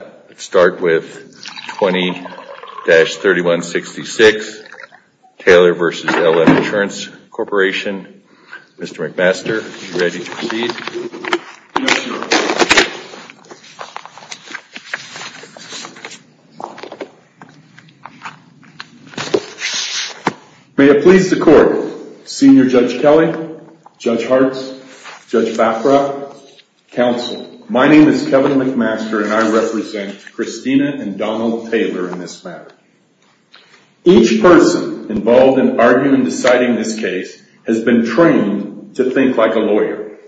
Let's start with 20-3166 Taylor v. LM Insurance Corporation. Mr. McMaster, are you ready to proceed? Yes, Your Honor. May it please the Court, Senior Judge Kelly, Judge Hartz, Judge Baffra, Counsel, my name is Kevin McMaster and I represent Christina and Donald Taylor in this matter. Each person involved in arguing and deciding this case has been trained to think like a lawyer.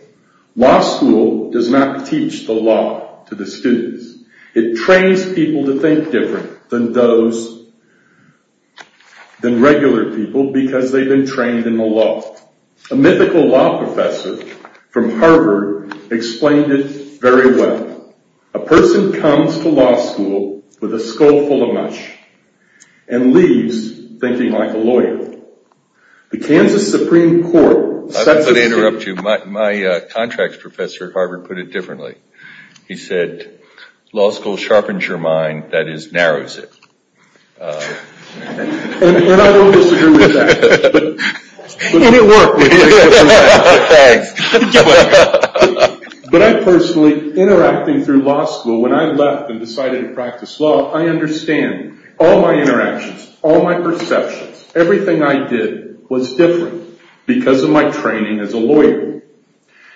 Law school does not teach the law to the students. It trains people to think different than those, than regular people because they've been trained in the law. A mythical law professor from Harvard explained it very well. A person comes to law school with a skull full of mush and leaves thinking like a lawyer. The Kansas Supreme Court sets a... I'm going to interrupt you. My contract professor at Harvard put it differently. He said, law school sharpens your mind, that is, narrows it. And I don't disagree with that. And it worked. Thanks. But I personally, interacting through law school, when I left and decided to practice law, I understand all my interactions, all my perceptions. Everything I did was different because of my training as a lawyer.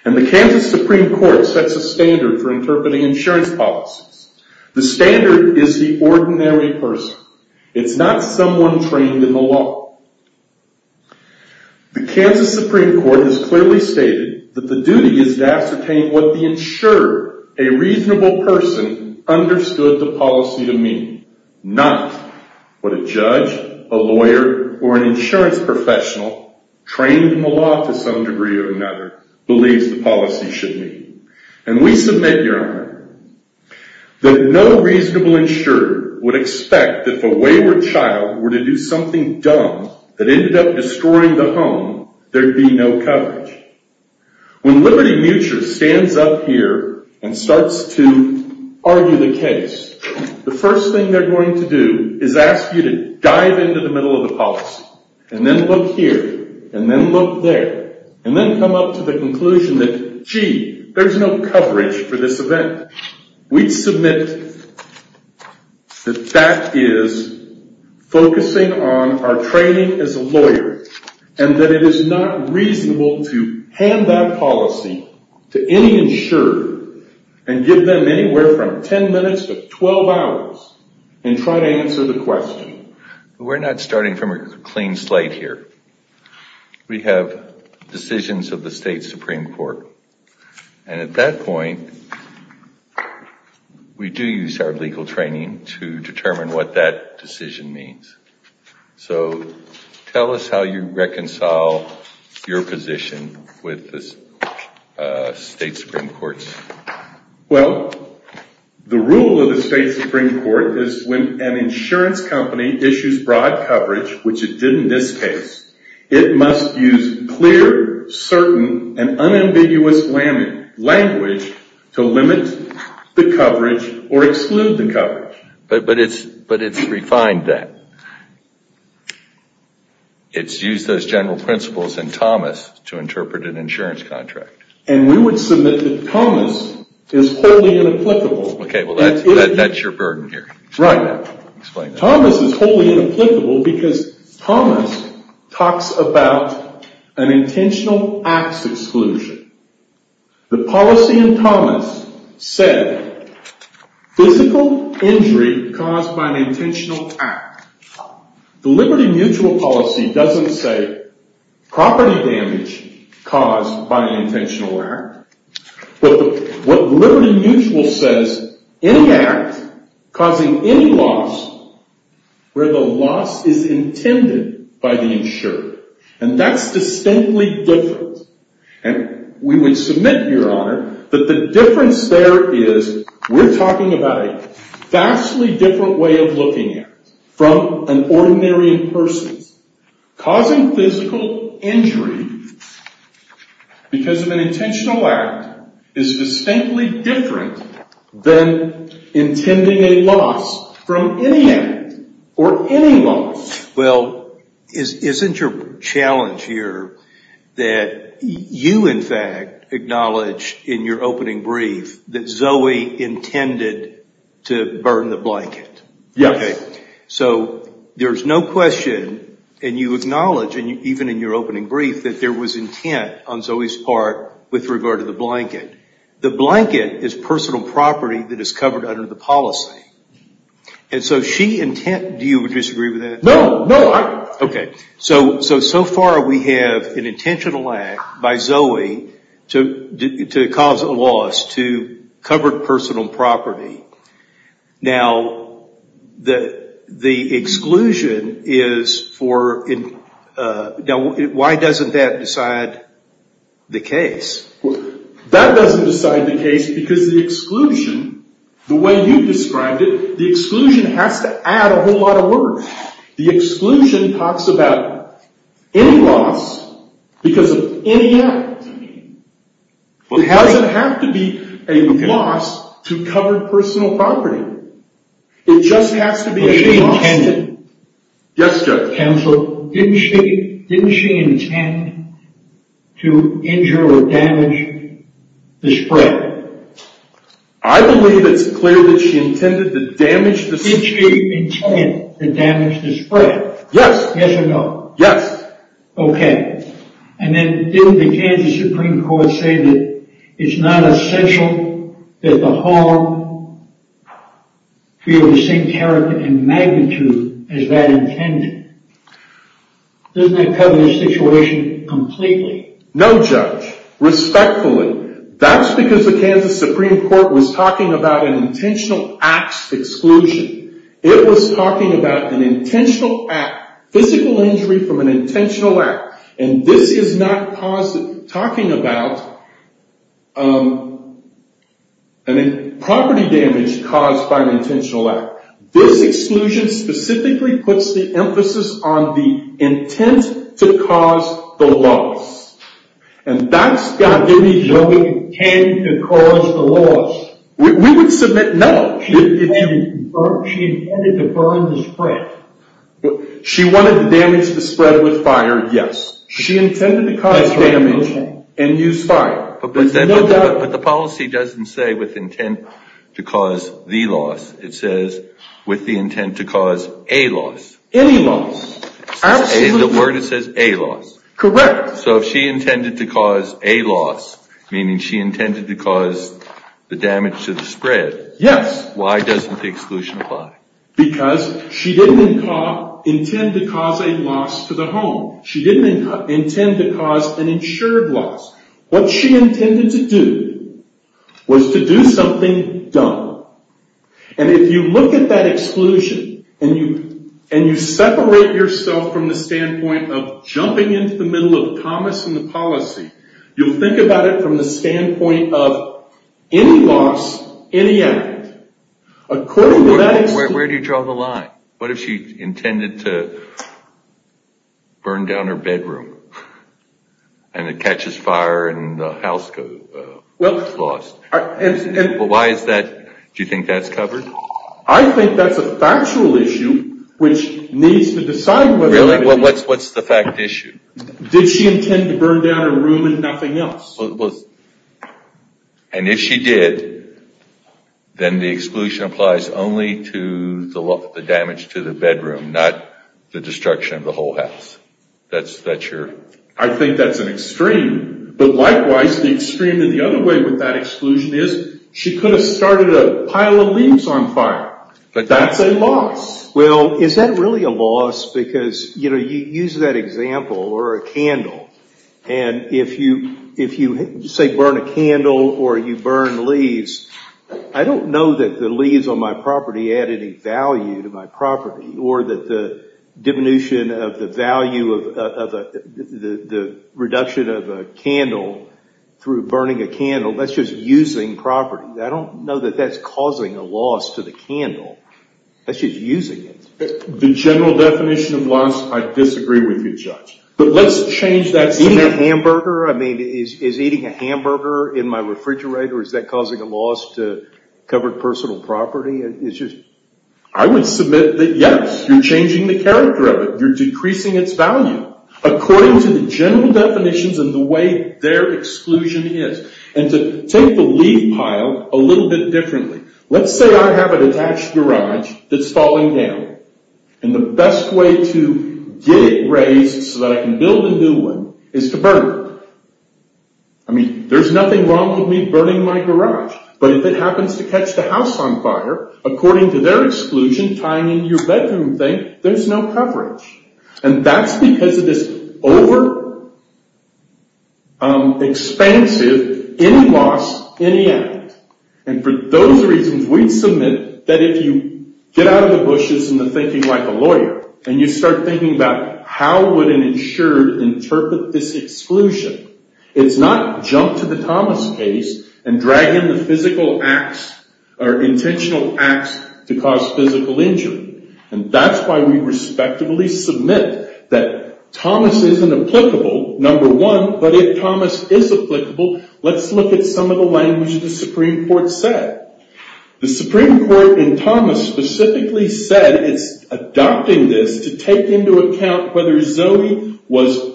And the Kansas Supreme Court sets a standard for interpreting insurance policies. The standard is the ordinary person. It's not someone trained in the law. The Kansas Supreme Court has clearly stated that the duty is to ascertain what the insurer, a reasonable person, understood the policy to mean. Not what a judge, a lawyer, or an insurance professional, trained in the law to some degree or another, believes the policy should mean. And we submit, Your Honor, that no reasonable insurer would expect that if a wayward child were to do something dumb that ended up destroying the home, there'd be no coverage. When Liberty Mutual stands up here and starts to argue the case, the first thing they're going to do is ask you to dive into the middle of the policy. And then look here. And then look there. And then come up to the conclusion that, gee, there's no coverage for this event. We submit that that is focusing on our training as a lawyer. And that it is not reasonable to hand that policy to any insurer and give them anywhere from 10 minutes to 12 hours and try to answer the question. We're not starting from a clean slate here. We have decisions of the State Supreme Court. And at that point, we do use our legal training to determine what that decision means. So tell us how you reconcile your position with the State Supreme Court's. Well, the rule of the State Supreme Court is when an insurance company issues broad coverage, which it did in this case, it must use clear, certain, and unambiguous language to limit the coverage or exclude the coverage. But it's refined that. It's used those general principles in Thomas to interpret an insurance contract. And we would submit that Thomas is wholly inapplicable. Okay. Well, that's your burden here. Right. Thomas is wholly inapplicable because Thomas talks about an intentional acts exclusion. The policy in Thomas said physical injury caused by an intentional act. The Liberty Mutual policy doesn't say property damage caused by an intentional act. But what Liberty Mutual says, any act causing any loss where the loss is intended by the insurer. And that's distinctly different. And we would submit, Your Honor, that the difference there is we're talking about a vastly different way of looking at it from an ordinary person. Causing physical injury because of an intentional act is distinctly different than intending a loss from any act or any loss. Well, isn't your challenge here that you, in fact, acknowledge in your opening brief that Zoe intended to burn the blanket? Yes. Okay. So there's no question, and you acknowledge, even in your opening brief, that there was intent on Zoe's part with regard to the blanket. The blanket is personal property that is covered under the policy. And so she intent, do you disagree with that? No, no. Okay. So, so far we have an intentional act by Zoe to cause a loss to covered personal property. Now, the exclusion is for, why doesn't that decide the case? That doesn't decide the case because the exclusion, the way you described it, the exclusion has to add a whole lot of work. The exclusion talks about any loss because of any act. It doesn't have to be a loss to covered personal property. It just has to be a loss. But she intended. Yes, Judge. Counselor, didn't she, didn't she intend to injure or damage the spread? I believe it's clear that she intended to damage the spread. Did she intend to damage the spread? Yes. Yes or no? Yes. Okay. And then didn't the Kansas Supreme Court say that it's not essential that the home feel the same character and magnitude as that intended? Doesn't that cover the situation completely? No, Judge. Respectfully. That's because the Kansas Supreme Court was talking about an intentional acts exclusion. It was talking about an intentional act, physical injury from an intentional act. And this is not talking about property damage caused by an intentional act. This exclusion specifically puts the emphasis on the intent to cause the loss. And that's got to be the intent to cause the loss. We would submit no. She intended to burn the spread. She wanted to damage the spread with fire, yes. She intended to cause damage and use fire. But the policy doesn't say with intent to cause the loss. It says with the intent to cause a loss. Any loss. The word, it says a loss. Correct. So if she intended to cause a loss, meaning she intended to cause the damage to the spread. Yes. Why doesn't the exclusion apply? Because she didn't intend to cause a loss to the home. She didn't intend to cause an insured loss. What she intended to do was to do something dumb. And if you look at that exclusion and you separate yourself from the standpoint of jumping into the middle of Thomas and the policy, you'll think about it from the standpoint of any loss, any act. Where do you draw the line? What if she intended to burn down her bedroom and it catches fire and the house is lost? Why is that? Do you think that's covered? I think that's a factual issue which needs to decide whether or not it is. Really? What's the fact issue? Did she intend to burn down her room and nothing else? And if she did, then the exclusion applies only to the damage to the bedroom, not the destruction of the whole house. That's your... I think that's an extreme. But likewise, the extreme in the other way with that exclusion is she could have started a pile of leaves on fire. But that's a loss. Well, is that really a loss? Because you use that example or a candle. And if you say burn a candle or you burn leaves, I don't know that the leaves on my property add any value to my property or that the diminution of the value of the reduction of a candle through burning a candle, that's just using property. I don't know that that's causing a loss to the candle. That's just using it. The general definition of loss, I disagree with you, Judge. But let's change that... Eating a hamburger? I mean, is eating a hamburger in my refrigerator, is that causing a loss to covered personal property? I would submit that yes, you're changing the character of it. You're decreasing its value according to the general definitions and the way their exclusion is. And to take the leaf pile a little bit differently. Let's say I have an attached garage that's falling down. And the best way to get it raised so that I can build a new one is to burn it. I mean, there's nothing wrong with me burning my garage. But if it happens to catch the house on fire, according to their exclusion, tying in your bedroom thing, there's no coverage. And that's because it is over-expansive, any loss, any act. And for those reasons, we submit that if you get out of the bushes and the thinking like a lawyer, and you start thinking about how would an insured interpret this exclusion, it's not jump to the Thomas case and drag in the physical acts or intentional acts to cause physical injury. And that's why we respectably submit that Thomas isn't applicable, number one. But if Thomas is applicable, let's look at some of the language the Supreme Court said. The Supreme Court in Thomas specifically said it's adopting this to take into account whether Zoe was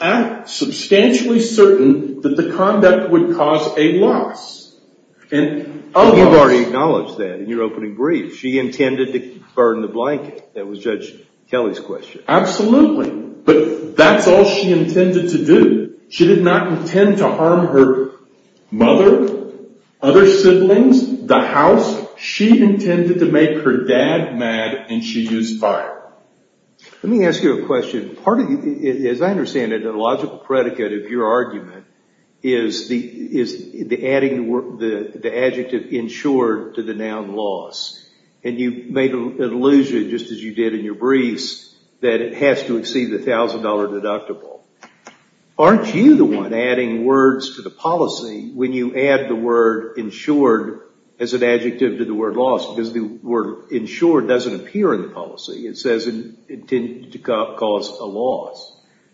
substantially certain that the conduct would cause a loss. And you've already acknowledged that in your opening brief. She intended to burn the blanket. That was Judge Kelly's question. Absolutely. But that's all she intended to do. She did not intend to harm her mother, other siblings, the house. She intended to make her dad mad, and she used fire. Let me ask you a question. As I understand it, a logical predicate of your argument is the adding the adjective insured to the noun loss. And you made an allusion, just as you did in your briefs, that it has to exceed the $1,000 deductible. Aren't you the one adding words to the policy when you add the word insured as an adjective to the word loss? Because the word insured doesn't appear in the policy. It says intended to cause a loss.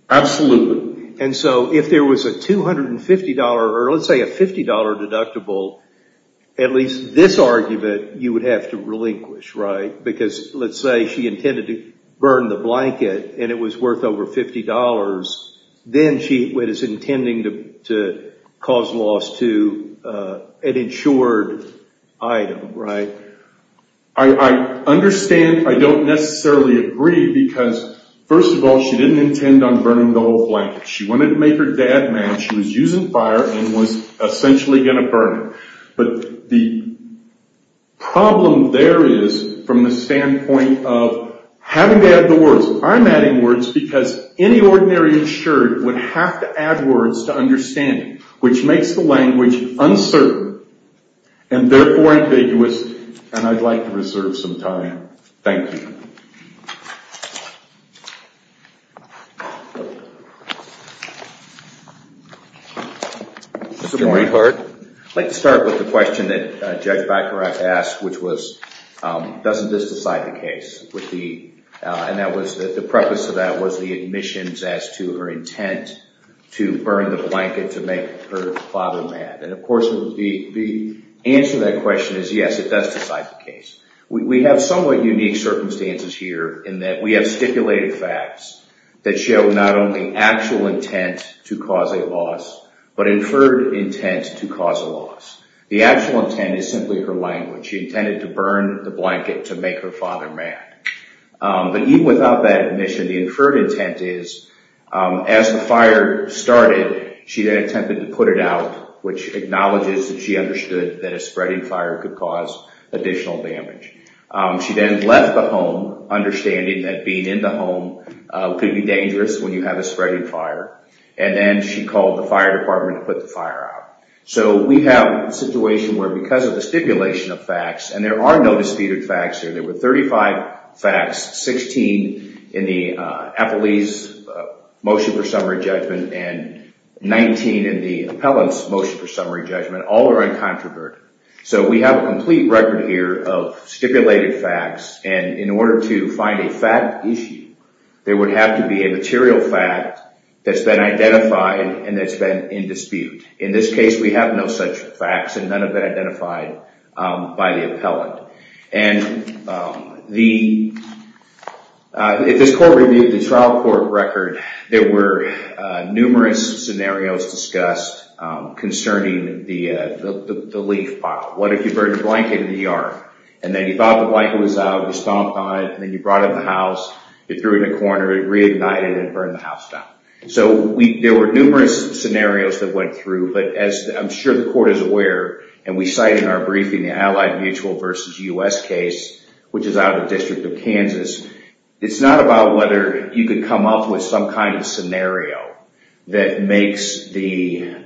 Absolutely. And so if there was a $250 or let's say a $50 deductible, at least this argument you would have to relinquish, right? Because let's say she intended to burn the blanket and it was worth over $50, then she was intending to cause loss to an insured item, right? I understand I don't necessarily agree because, first of all, she didn't intend on burning the whole blanket. She wanted to make her dad mad. She was using fire and was essentially going to burn it. But the problem there is from the standpoint of having to add the words. I'm adding words because any ordinary insured would have to add words to understand it, which makes the language uncertain and therefore ambiguous. And I'd like to reserve some time. Thank you. I'd like to start with the question that Judge Bacharach asked, which was doesn't this decide the case? And the preface to that was the admissions as to her intent to burn the blanket to make her father mad. And, of course, the answer to that question is yes, it does decide the case. We have somewhat unique circumstances here in that we have stipulated facts that show not only actual intent to cause a loss, but inferred intent to cause a loss. The actual intent is simply her language. She intended to burn the blanket to make her father mad. But even without that admission, the inferred intent is as the fire started, she attempted to put it out, which acknowledges that she understood that a spreading fire could cause additional damage. She then left the home understanding that being in the home could be dangerous when you have a spreading fire. And then she called the fire department to put the fire out. So we have a situation where because of the stipulation of facts, and there are no disputed facts here, there were 35 facts, 16 in the appellee's motion for summary judgment and 19 in the appellant's motion for summary judgment, all are incontrovertible. So we have a complete record here of stipulated facts. And in order to find a fact issue, there would have to be a material fact that's been identified and that's been in dispute. In this case, we have no such facts and none have been identified by the appellant. And if this court reviewed the trial court record, there were numerous scenarios discussed concerning the leaf pop. What if you burned a blanket in the ER and then you thought the blanket was out, you stomped on it, and then you brought it in the house, you threw it in a corner, it reignited and burned the house down. So there were numerous scenarios that went through, but as I'm sure the court is aware, and we cite in our briefing the Allied Mutual versus U.S. case, which is out of the District of Kansas, it's not about whether you could come up with some kind of scenario that makes the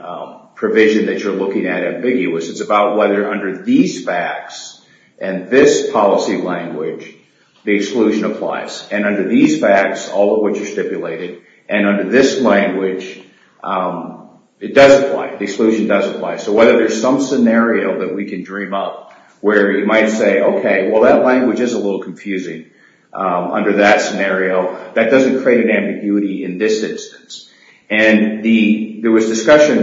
provision that you're looking at ambiguous. It's about whether under these facts and this policy language, the exclusion applies. And under these facts, all of which are stipulated, and under this language, it does apply. The exclusion does apply. So whether there's some scenario that we can dream up where you might say, okay, well, that language is a little confusing under that scenario. That doesn't create an ambiguity in this instance. And there was discussion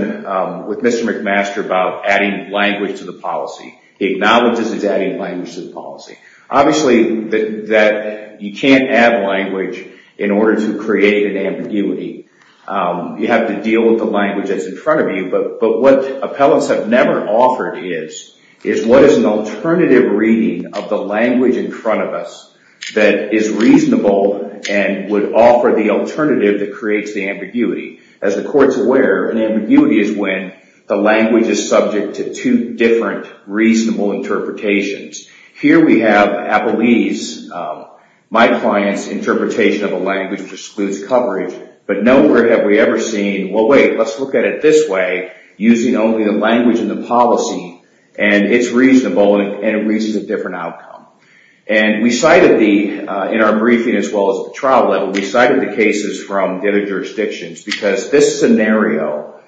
with Mr. McMaster about adding language to the policy. He acknowledges he's adding language to the policy. Obviously, you can't add language in order to create an ambiguity. You have to deal with the language that's in front of you. But what appellants have never offered is what is an alternative reading of the language in front of us that is reasonable and would offer the alternative that creates the ambiguity. As the court's aware, an ambiguity is when the language is subject to two different reasonable interpretations. Here we have Appellee's, my client's interpretation of a language which excludes coverage. But nowhere have we ever seen, well, wait, let's look at it this way, using only the language in the policy, and it's reasonable and it reaches a different outcome. And we cited the, in our briefing as well as the trial level, we cited the cases from the other jurisdictions because this scenario,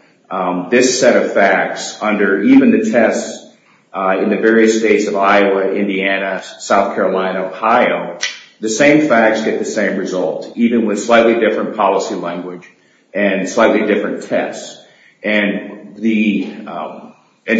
this set of facts under even the tests in the various states of Iowa, Indiana, South Carolina, Ohio, the same facts get the same result, even with slightly different policy language and slightly different tests. And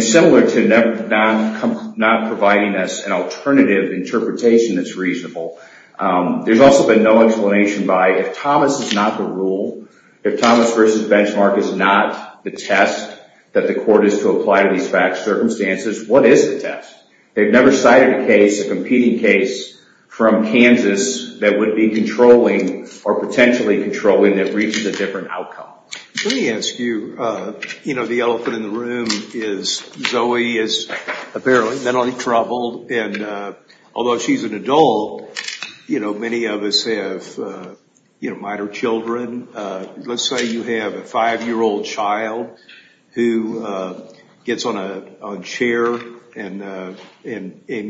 similar to not providing us an alternative interpretation that's reasonable, there's also been no explanation by if Thomas is not the rule, if Thomas versus Benchmark is not the test that the court is to apply to these facts, circumstances, what is the test? They've never cited a case, a competing case from Kansas that would be controlling or potentially controlling that reaches a different outcome. Let me ask you, you know, the elephant in the room is Zoe is apparently mentally troubled, and although she's an adult, you know, many of us have, you know, minor children. Let's say you have a five-year-old child who gets on a chair and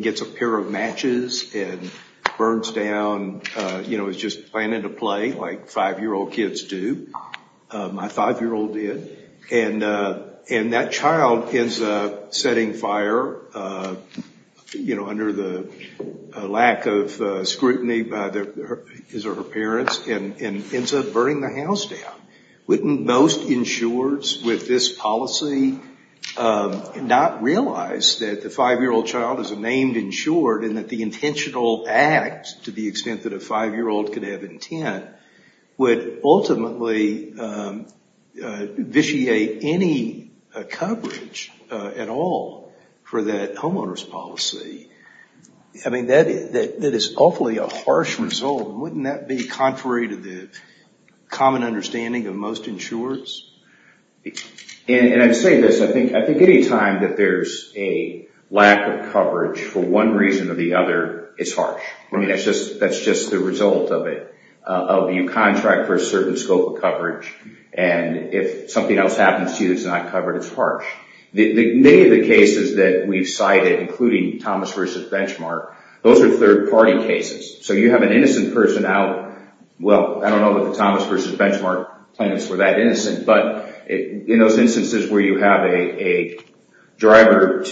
gets a pair of matches and burns down, you know, is just playing into play like five-year-old kids do. My five-year-old did. And that child ends up setting fire, you know, under the lack of scrutiny by his or her parents and ends up burning the house down. Wouldn't most insureds with this policy not realize that the five-year-old child is a named insured and that the intentional act, to the extent that a five-year-old could have intent, would ultimately vitiate any coverage at all for that homeowner's policy? I mean, that is awfully a harsh result. Wouldn't that be contrary to the common understanding of most insureds? And I'm saying this, I think any time that there's a lack of coverage for one reason or the other, it's harsh. I mean, that's just the result of it, of you contract for a certain scope of coverage, and if something else happens to you that's not covered, it's harsh. Many of the cases that we've cited, including Thomas v. Benchmark, those are third-party cases. So you have an innocent person out, well, I don't know that the Thomas v. Benchmark plaintiffs were that innocent, but in those instances where you have a driver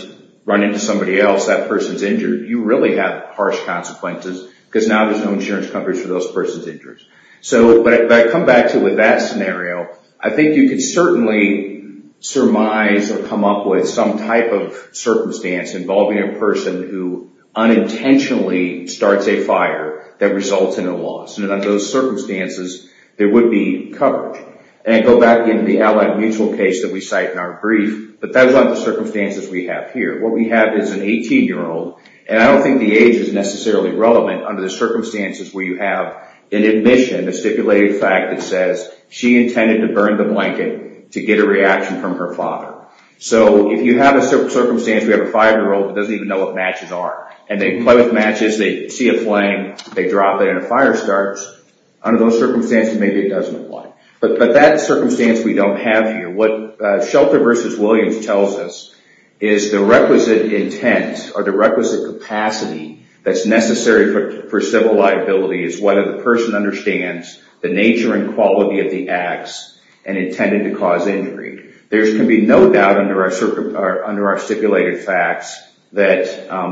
run into somebody else, that person's injured. You really have harsh consequences because now there's no insurance coverage for those persons injured. So if I come back to it with that scenario, I think you could certainly surmise or come up with some type of circumstance involving a person who unintentionally starts a fire that results in a loss. And under those circumstances, there would be coverage. And I go back into the Allied Mutual case that we cite in our brief, but that's not the circumstances we have here. What we have is an 18-year-old, and I don't think the age is necessarily relevant under the circumstances where you have an admission, a stipulated fact that says she intended to burn the blanket to get a reaction from her father. So if you have a circumstance where you have a 5-year-old who doesn't even know what matches are, and they play with matches, they see a flame, they drop it, and a fire starts, under those circumstances, maybe it doesn't apply. But that circumstance we don't have here. What Shelter v. Williams tells us is the requisite intent or the requisite capacity that's necessary for civil liability is whether the person understands the nature and quality of the acts and intended to cause injury. There can be no doubt under our stipulated facts that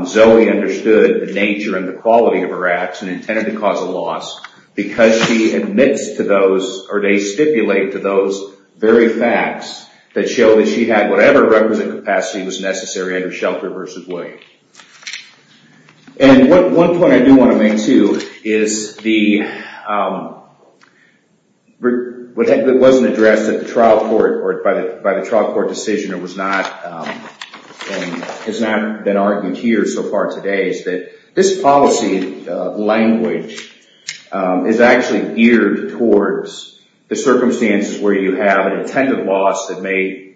Zoe understood the nature and the quality of her acts and intended to cause a loss because she admits to those, or they stipulate to those very facts that show that she had whatever requisite capacity was necessary under Shelter v. Williams. And one point I do want to make, too, is what wasn't addressed at the trial court or by the trial court decision or has not been argued here so far today is that this policy language is actually geared towards the circumstances where you have an intended loss that may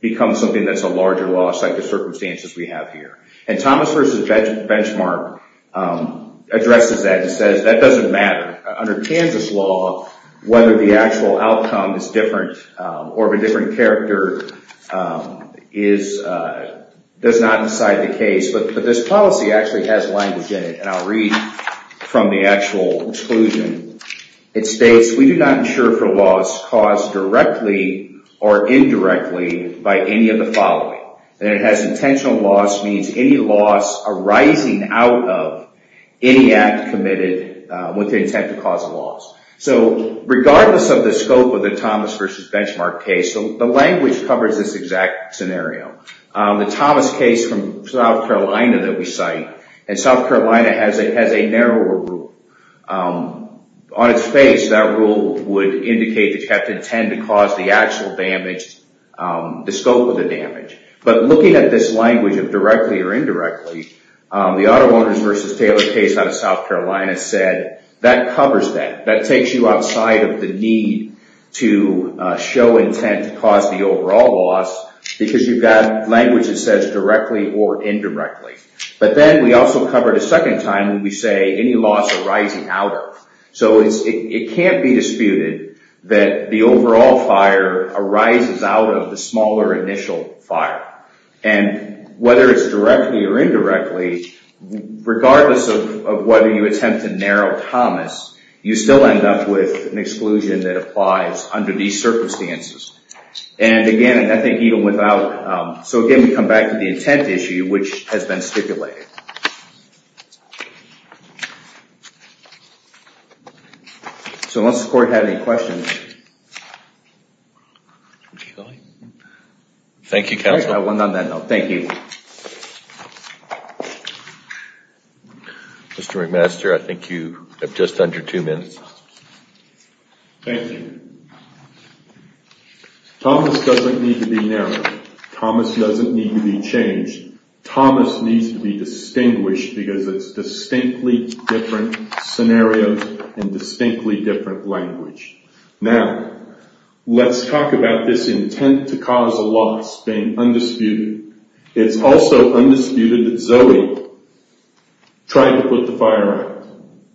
become something that's a larger loss like the circumstances we have here. And Thomas v. Benchmark addresses that and says that doesn't matter. Under Kansas law, whether the actual outcome is different or of a different character does not decide the case. But this policy actually has language in it, and I'll read from the actual exclusion. It states, we do not insure for loss caused directly or indirectly by any of the following. That it has intentional loss means any loss arising out of any act committed with the intent to cause a loss. So regardless of the scope of the Thomas v. Benchmark case, the language covers this exact scenario. The Thomas case from South Carolina that we cite, and South Carolina has a narrower rule. On its face, that rule would indicate that you have to intend to cause the actual damage, the scope of the damage. But looking at this language of directly or indirectly, the Auto Owners v. Taylor case out of South Carolina said that covers that. That takes you outside of the need to show intent to cause the overall loss because you've got language that says directly or indirectly. But then we also cover it a second time when we say any loss arising out of. So it can't be disputed that the overall fire arises out of the smaller initial fire. And whether it's directly or indirectly, regardless of whether you attempt to narrow Thomas, you still end up with an exclusion that applies under these circumstances. And again, I think even without, so again we come back to the intent issue which has been stipulated. So unless the court had any questions. Thank you counsel. Thank you. Mr. McMaster, I think you have just under two minutes. Thank you. Thomas doesn't need to be narrowed. Thomas doesn't need to be changed. Thomas needs to be distinguished because it's distinctly different scenarios and distinctly different language. Now, let's talk about this intent to cause a loss being undisputed. It's also undisputed that Zoe tried to put the fire out.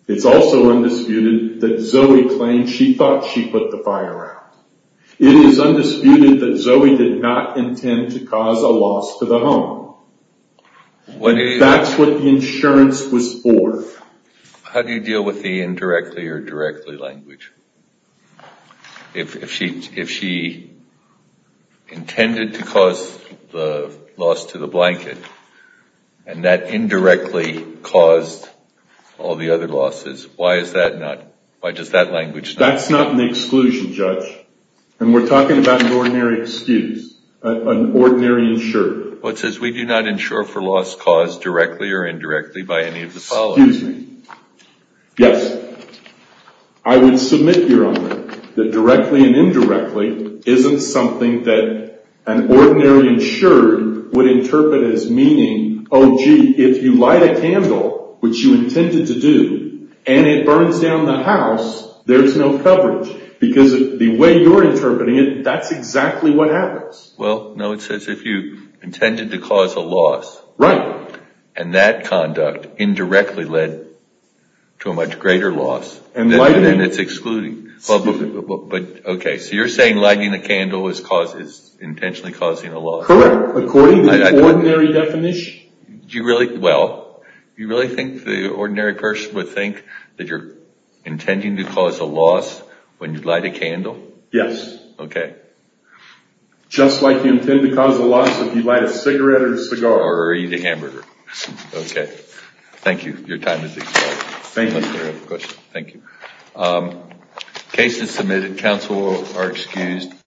It's also undisputed that Zoe claimed she thought she put the fire out. It is undisputed that Zoe did not intend to cause a loss to the home. That's what the insurance was for. How do you deal with the indirectly or directly language? If she intended to cause the loss to the blanket and that indirectly caused all the other losses, why is that not, why does that language not apply? That's not an exclusion, Judge. And we're talking about an ordinary excuse, an ordinary insurer. Well, it says we do not insure for loss caused directly or indirectly by any of the following. Excuse me. Yes. I would submit, Your Honor, that directly and indirectly isn't something that an ordinary insurer would interpret as meaning, oh, gee, if you light a candle, which you intended to do, and it burns down the house, there's no coverage. Because the way you're interpreting it, that's exactly what happens. Well, no, it says if you intended to cause a loss. Right. And that conduct indirectly led to a much greater loss, then it's excluding. Excuse me. But, okay, so you're saying lighting a candle is intentionally causing a loss. Correct. According to the ordinary definition. Do you really, well, do you really think the ordinary person would think that you're intending to cause a loss when you light a candle? Yes. Okay. Just like you intend to cause a loss if you light a cigarette or a cigar. Or eat a hamburger. Okay. Thank you. Your time has expired. Thank you. Thank you. Case is submitted. Counsel are excused.